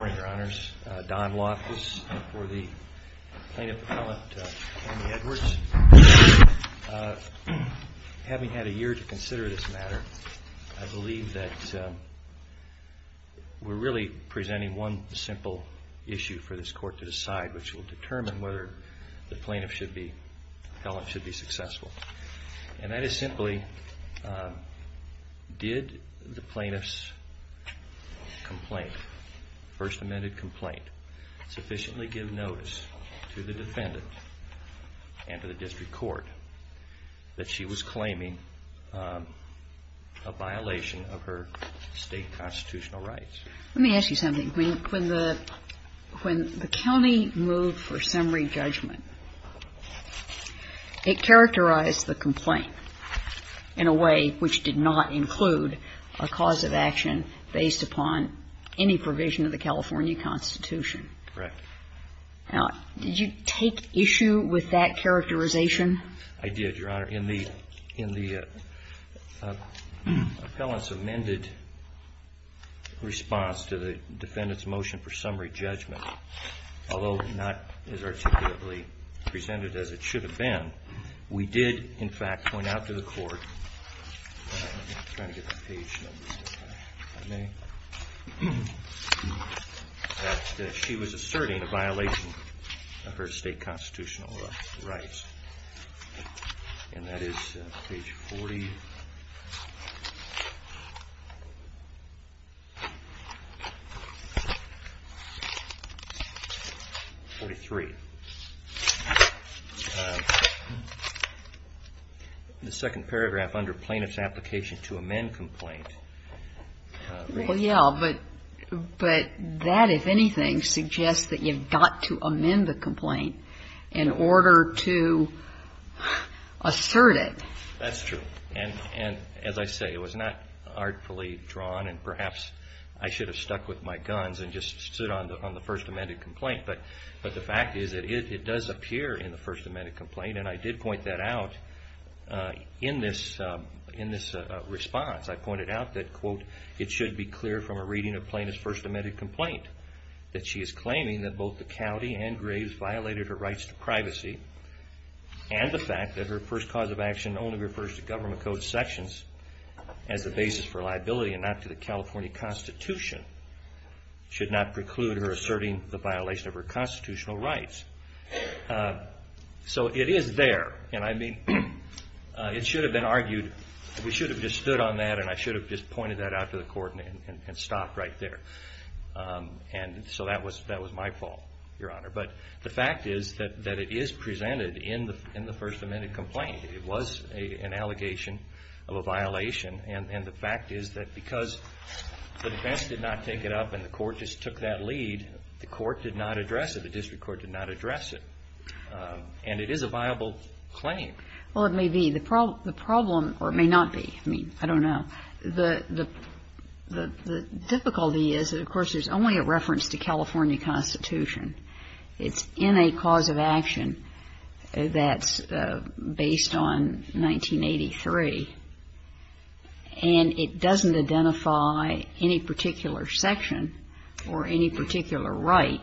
Good morning, Your Honors. Don Loftus for the Plaintiff Appellant, Tammy Edwards. Having had a year to consider this matter, I believe that we're really presenting one simple issue for this Court to decide, which will determine whether the plaintiff should be, the appellant should be successful. And that is simply, did the plaintiff's complaint, first amended complaint, sufficiently give notice to the defendant and to the District Court that she was claiming a violation of her state constitutional rights? Let me ask you something. When the county moved for summary judgment, it characterized the complaint in a way which did not include a cause of action based upon any provision of the California Constitution. Correct. Now, did you take issue with that characterization? I did, Your Honor. In the appellant's amended response to the defendant's motion for summary judgment, although not as articulately presented as it should have been, we did, in fact, point out to the Court that she was asserting a violation of her state constitutional rights. And that is page 43. The second paragraph under plaintiff's application to amend complaint. Well, yeah, but that, if anything, suggests that you've got to amend the complaint in order to assert it. That's true. And as I say, it was not artfully drawn, and perhaps I should have stuck with my guns and just stood on the first amended complaint. But the fact is that it does appear in the first amended complaint, and I did point that out in this response. I pointed out that, quote, it should be clear from a reading of plaintiff's first amended complaint that she is claiming that both the county and Graves violated her rights to privacy, and the fact that her first cause of action only refers to government code sections as the basis for liability and not to the California Constitution, should not preclude her asserting the violation of her constitutional rights. So it is there, and I mean, it should have been argued, we should have just stood on that, and I should have just pointed that out to the Court and stopped right there. And so that was my fault, Your Honor. But the fact is that it is presented in the first amended complaint. It was an allegation of a violation, and the fact is that because the defense did not take it up and the court just took that lead, the court did not address it, the district court did not address it. And it is a viable claim. Well, it may be. The problem or it may not be. I mean, I don't know. The difficulty is that, of course, there's only a reference to California Constitution. It's in a cause of action that's based on 1983, and it doesn't identify any particular section or any particular right.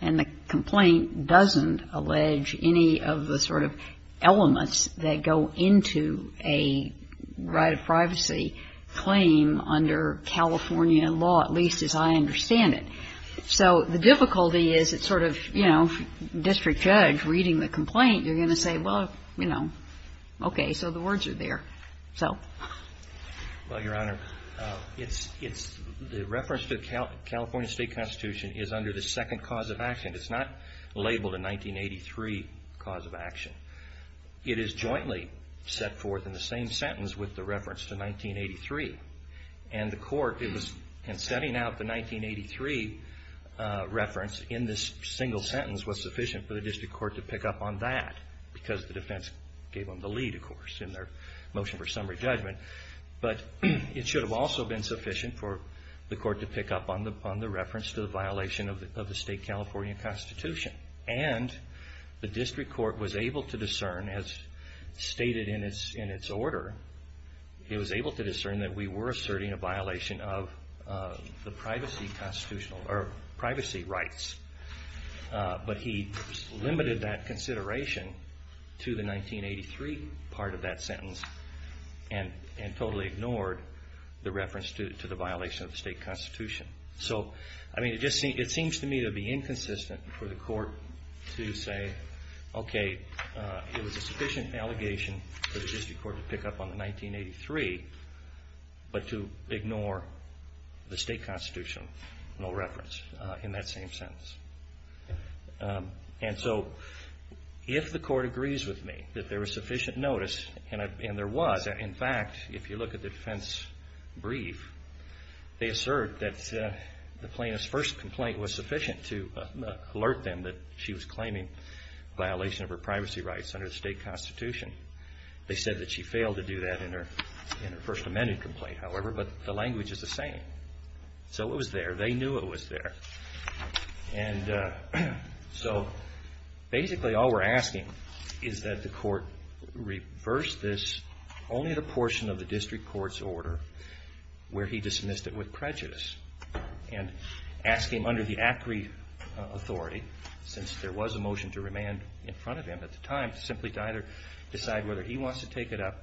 And the complaint doesn't allege any of the sort of elements that go into a right of privacy claim under California law, at least as I understand it. So the difficulty is it's sort of, you know, district judge reading the complaint, you're going to say, well, you know, okay, so the words are there. Well, Your Honor, the reference to the California State Constitution is under the second cause of action. It's not labeled a 1983 cause of action. It is jointly set forth in the same sentence with the reference to 1983. And the court, in setting out the 1983 reference in this single sentence was sufficient for the district court to pick up on that because the defense gave them the lead, of course, in their motion for summary judgment. But it should have also been sufficient for the court to pick up on the reference to the violation of the State California Constitution. And the district court was able to discern, as stated in its order, it was able to discern that we were asserting a violation of the privacy rights. But he limited that consideration to the 1983 part of that sentence and totally ignored the reference to the violation of the state constitution. So, I mean, it seems to me to be inconsistent for the court to say, okay, it was a sufficient allegation for the district court to pick up on the 1983, but to ignore the state constitutional reference in that same sentence. And so, if the court agrees with me that there was sufficient notice, and there was, in fact, if you look at the defense brief, they assert that the plaintiff's first complaint was sufficient to alert them that she was claiming violation of her privacy rights under the state constitution. They said that she failed to do that in her first amended complaint, however, but the language is the same. So it was there. They knew it was there. And so, basically, all we're asking is that the court reverse this, only the portion of the district court's order where he dismissed it with prejudice. And ask him under the ACRI authority, since there was a motion to remand in front of him at the time, simply to either decide whether he wants to take it up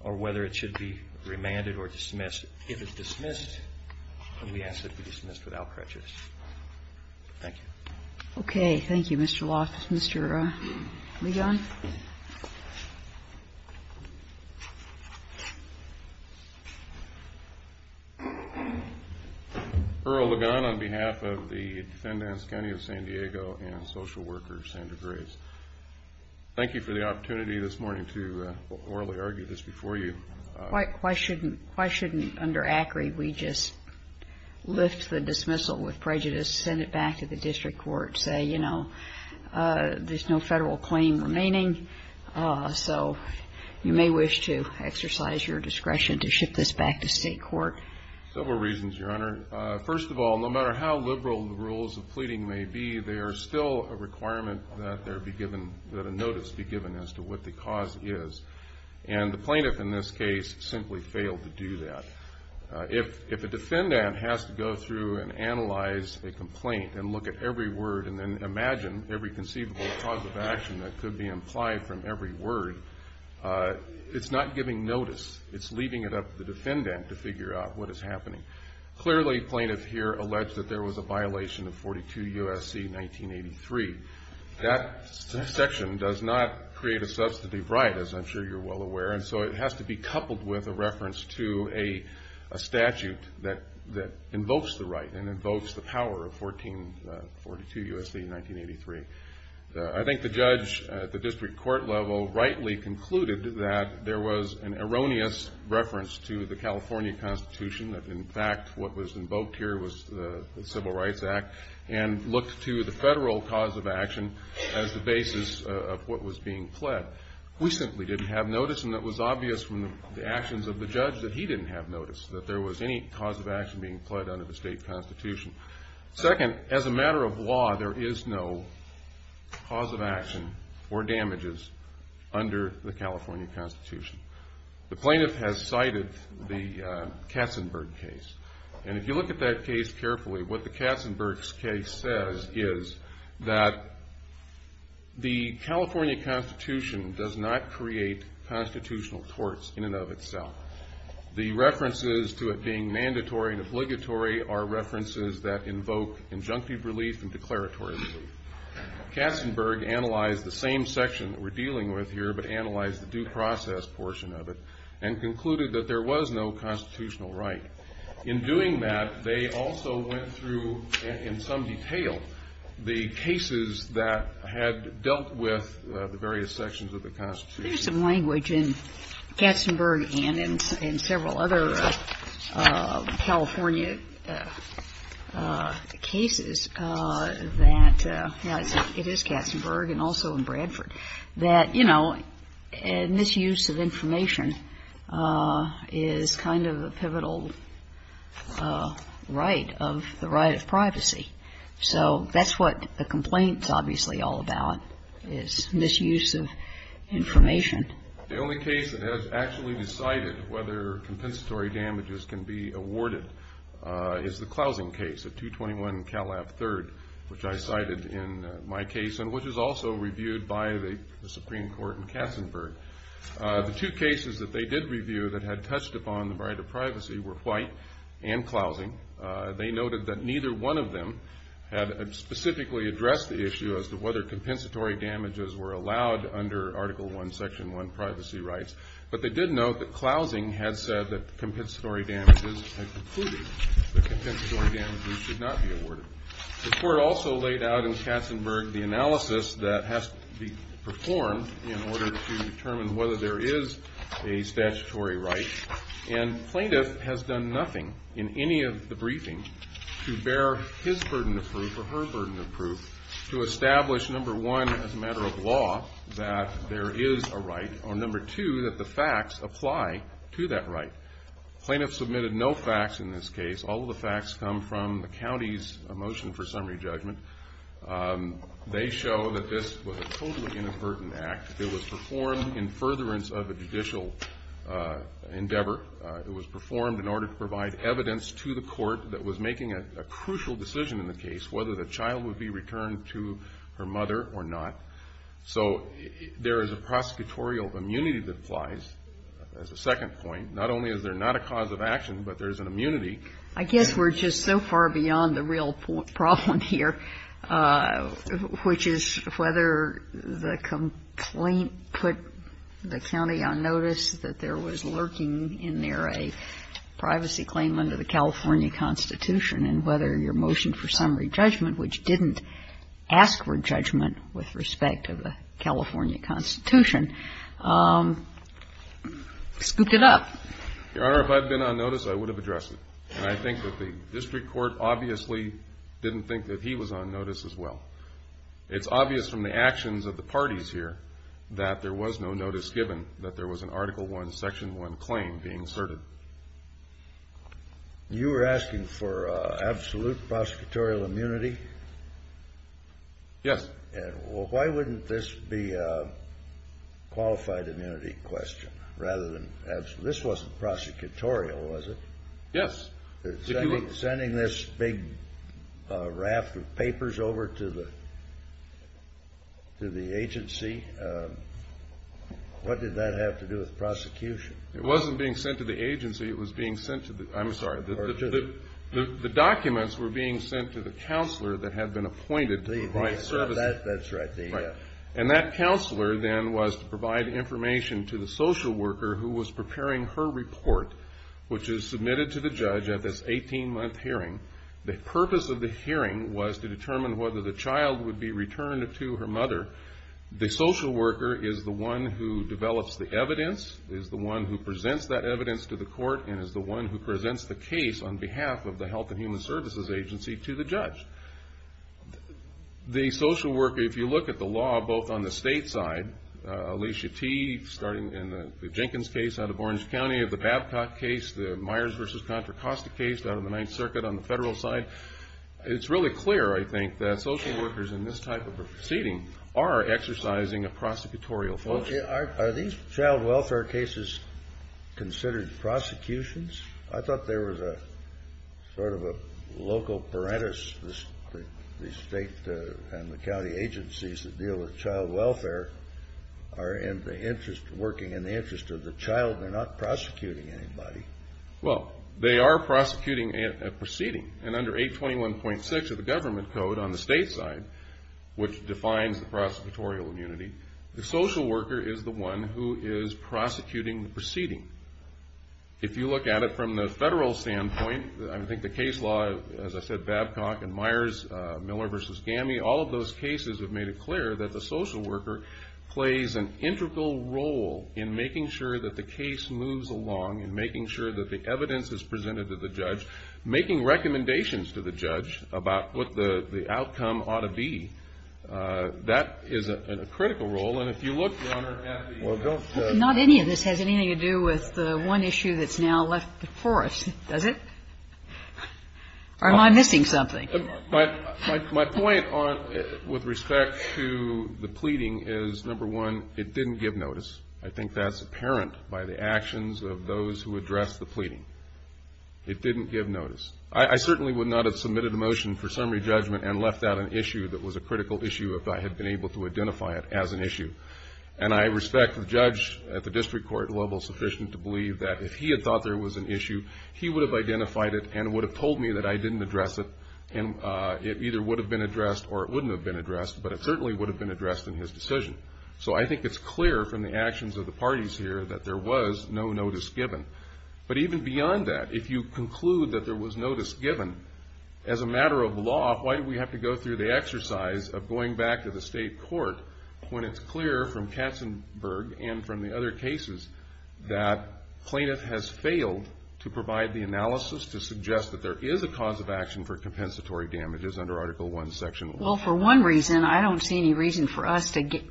or whether it should be remanded or dismissed. If it's dismissed, then we ask that it be dismissed without prejudice. Thank you. Okay. Thank you, Mr. Loft. Mr. Ligon? Earl Ligon on behalf of the defendant's county of San Diego and social worker Sandra Graves. Thank you for the opportunity this morning to orally argue this before you. Why shouldn't under ACRI we just lift the dismissal with prejudice, send it back to the district court, say, you know, there's no federal claim remaining. So you may wish to exercise your discretion to ship this back to state court. Several reasons, Your Honor. First of all, no matter how liberal the rules of pleading may be, there is still a requirement that a notice be given as to what the cause is. And the plaintiff in this case simply failed to do that. If a defendant has to go through and analyze a complaint and look at every word and then imagine every conceivable cause of action that could be implied from every word, it's not giving notice. It's leaving it up to the defendant to figure out what is happening. Clearly, plaintiff here alleged that there was a violation of 42 U.S.C. 1983. That section does not create a substantive right, as I'm sure you're well aware, and so it has to be coupled with a reference to a statute that invokes the right and invokes the power of 1442 U.S.C. 1983. I think the judge at the district court level rightly concluded that there was an erroneous reference to the California Constitution, that in fact what was invoked here was the Civil Rights Act, and looked to the federal cause of action as the basis of what was being pled. We simply didn't have notice, and it was obvious from the actions of the judge that he didn't have notice that there was any cause of action being pled under the state constitution. Second, as a matter of law, there is no cause of action or damages under the California Constitution. The plaintiff has cited the Katzenberg case, and if you look at that case carefully, what the Katzenberg case says is that the California Constitution does not create constitutional torts in and of itself. The references to it being mandatory and obligatory are references that invoke injunctive relief and declaratory relief. Katzenberg analyzed the same section that we're dealing with here, but analyzed the due process portion of it, and concluded that there was no constitutional right. In doing that, they also went through in some detail the cases that had dealt with the various sections of the Constitution. There's some language in Katzenberg and in several other California cases that it is Katzenberg and also in Bradford that, you know, misuse of information is kind of a pivotal right of the right of privacy. So that's what the complaint's obviously all about, is misuse of information. The only case that has actually decided whether compensatory damages can be awarded is the Klausen case at 221 Calab 3rd, which I cited in my case and which is also reviewed by the Supreme Court in Katzenberg. The two cases that they did review that had touched upon the right of privacy were White and Klausen. They noted that neither one of them had specifically addressed the issue as to whether compensatory damages were allowed under Article I, Section 1 privacy rights, but they did note that Klausen had said that compensatory damages had concluded that compensatory damages should not be awarded. The court also laid out in Katzenberg the analysis that has to be performed in order to determine whether there is a statutory right, and plaintiff has done nothing in any of the briefings to bear his burden of proof or her burden of proof to establish, number one, as a matter of law that there is a right, or number two, that the facts apply to that right. Plaintiff submitted no facts in this case. All of the facts come from the county's motion for summary judgment. They show that this was a totally inadvertent act. It was performed in furtherance of a judicial endeavor. It was performed in order to provide evidence to the court that was making a crucial decision in the case, whether the child would be returned to her mother or not. So there is a prosecutorial immunity that applies, as a second point. Not only is there not a cause of action, but there is an immunity. I guess we're just so far beyond the real problem here, which is whether the complaint put the county on notice that there was lurking in there a privacy claim under the California Constitution, and whether your motion for summary judgment, which didn't ask for judgment with respect to the California Constitution, scooped it up. Your Honor, if I had been on notice, I would have addressed it. And I think that the district court obviously didn't think that he was on notice as well. It's obvious from the actions of the parties here that there was no notice given that there was an Article I, Section I claim being asserted. You were asking for absolute prosecutorial immunity? Yes. Well, why wouldn't this be a qualified immunity question, rather than absolute? This wasn't prosecutorial, was it? Yes. Sending this big raft of papers over to the agency, what did that have to do with prosecution? It wasn't being sent to the agency. It was being sent to the, I'm sorry, the documents were being sent to the counselor that had been appointed to provide services. That's right. And that counselor then was to provide information to the social worker who was preparing her report, which is submitted to the judge at this 18-month hearing. The purpose of the hearing was to determine whether the child would be returned to her mother. The social worker is the one who develops the evidence, is the one who presents that evidence to the court, and is the one who presents the case on behalf of the Health and Human Services Agency to the judge. The social worker, if you look at the law, both on the state side, Alicia T., starting in the Jenkins case out of Orange County, the Babcock case, the Myers v. Contra Costa case out of the Ninth Circuit on the federal side, it's really clear, I think, that social workers in this type of a proceeding are exercising a prosecutorial function. Are these child welfare cases considered prosecutions? I thought there was a sort of a local parentis, the state and the county agencies that deal with child welfare are in the interest, working in the interest of the child. They're not prosecuting anybody. Well, they are prosecuting a proceeding. And under 821.6 of the government code on the state side, which defines the prosecutorial immunity, the social worker is the one who is prosecuting the proceeding. If you look at it from the federal standpoint, I think the case law, as I said, Babcock and Myers, Miller v. Gammie, all of those cases have made it clear that the social worker plays an integral role in making sure that the case moves along, in making sure that the evidence is presented to the judge, making recommendations to the judge about what the outcome ought to be. That is a critical role. And if you look, Your Honor, at the... Not any of this has anything to do with the one issue that's now left before us, does it? Or am I missing something? My point with respect to the pleading is, number one, it didn't give notice. I think that's apparent by the actions of those who addressed the pleading. It didn't give notice. I certainly would not have submitted a motion for summary judgment and left out an issue that was a critical issue if I had been able to identify it as an issue. And I respect the judge at the district court level sufficient to believe that if he had thought there was an issue, he would have identified it and would have told me that I didn't address it. It either would have been addressed or it wouldn't have been addressed, but it certainly would have been addressed in his decision. So I think it's clear from the actions of the parties here that there was no notice given. But even beyond that, if you conclude that there was notice given, as a matter of law, why do we have to go through the exercise of going back to the state court when it's clear from Katzenberg and from the other cases that plaintiff has failed to provide the analysis to suggest that there is a cause of action for compensatory damages under Article I, Section 1? Well, for one reason, I don't see any reason for us to get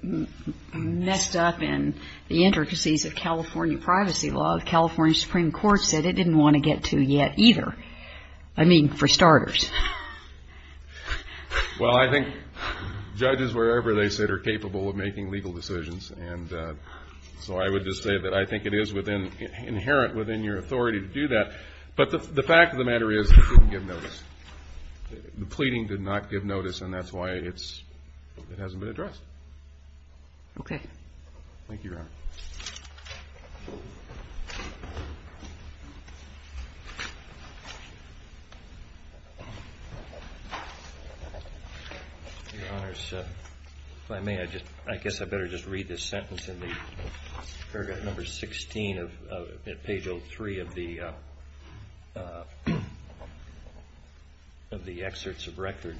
messed up in the intricacies of California privacy law. The California Supreme Court said it didn't want to get to yet either. I mean, for starters. Well, I think judges, wherever they sit, are capable of making legal decisions. And so I would just say that I think it is within – inherent within your authority to do that. But the fact of the matter is it didn't give notice. The pleading did not give notice, and that's why it's – it hasn't been addressed. Okay. Thank you, Your Honor. Your Honors, if I may, I just – I guess I better just read this sentence in the paragraph number 16 of page 03 of the – of the excerpts of record.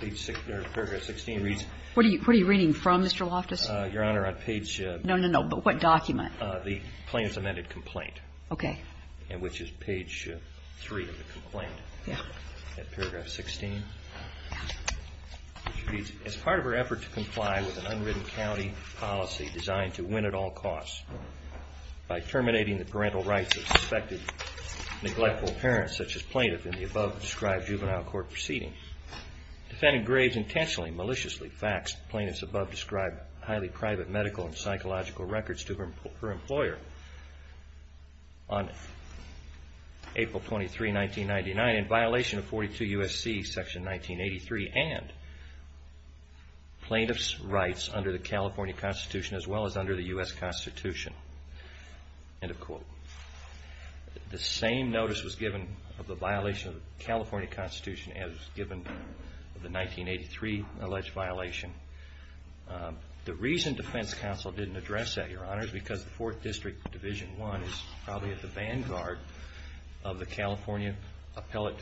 Paragraph 16 reads. What are you reading from, Mr. Loftus? Your Honor, on page – No, no, no. But what document? The plaintiff's amended complaint. Okay. And which is page 3 of the complaint. Yeah. At paragraph 16. Yeah. It reads, as part of her effort to comply with an unwritten county policy designed to win at all costs by terminating the parental rights of suspected neglectful parents such as plaintiff in the above-described juvenile court proceedings, defendant Graves intentionally maliciously faxed plaintiff's above-described highly private medical and psychological records to her employer on April 23, 1999, in violation of 42 U.S.C. section 1983 and plaintiff's rights under the California Constitution as well as under the U.S. Constitution, end of quote. The same notice was given of a violation of the California Constitution as was given of the 1983 alleged violation. The reason defense counsel didn't address that, Your Honor, is because the 4th District Division I is probably at the vanguard of the California Appellate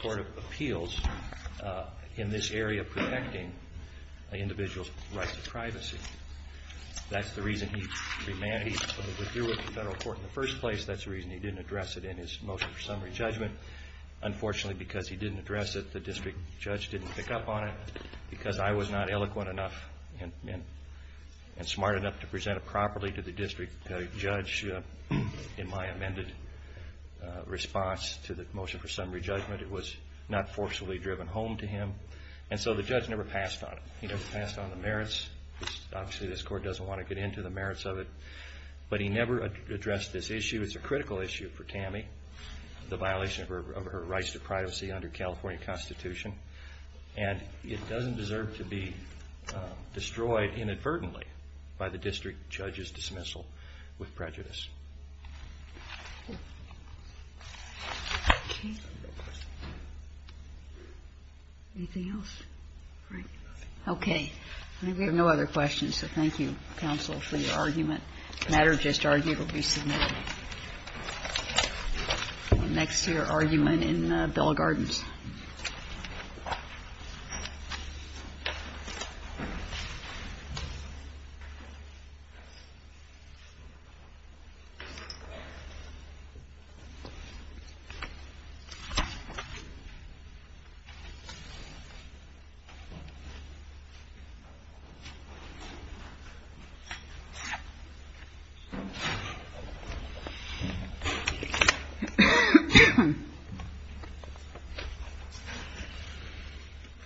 Court of Appeals in this area protecting an individual's rights to privacy. That's the reason he remanded the review of the federal court in the first place. That's the reason he didn't address it in his motion for summary judgment. Unfortunately, because he didn't address it, the district judge didn't pick up on it. Because I was not eloquent enough and smart enough to present it properly to the district judge in my amended response to the motion for summary judgment, it was not forcefully driven home to him. And so the judge never passed on it. He never passed on the merits. Obviously, this court doesn't want to get into the merits of it. But he never addressed this issue. It's a critical issue for Tammy, the violation of her rights to privacy under the California Constitution. And it doesn't deserve to be destroyed inadvertently by the district judge's dismissal with prejudice. Okay. Anything else? All right. Okay. We have no other questions, so thank you, counsel, for your argument. The matter just argued will be submitted. Next to your argument in Bell Gardens.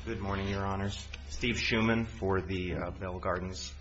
Good morning, Your Honors. Steve Shuman for the Bell Gardens.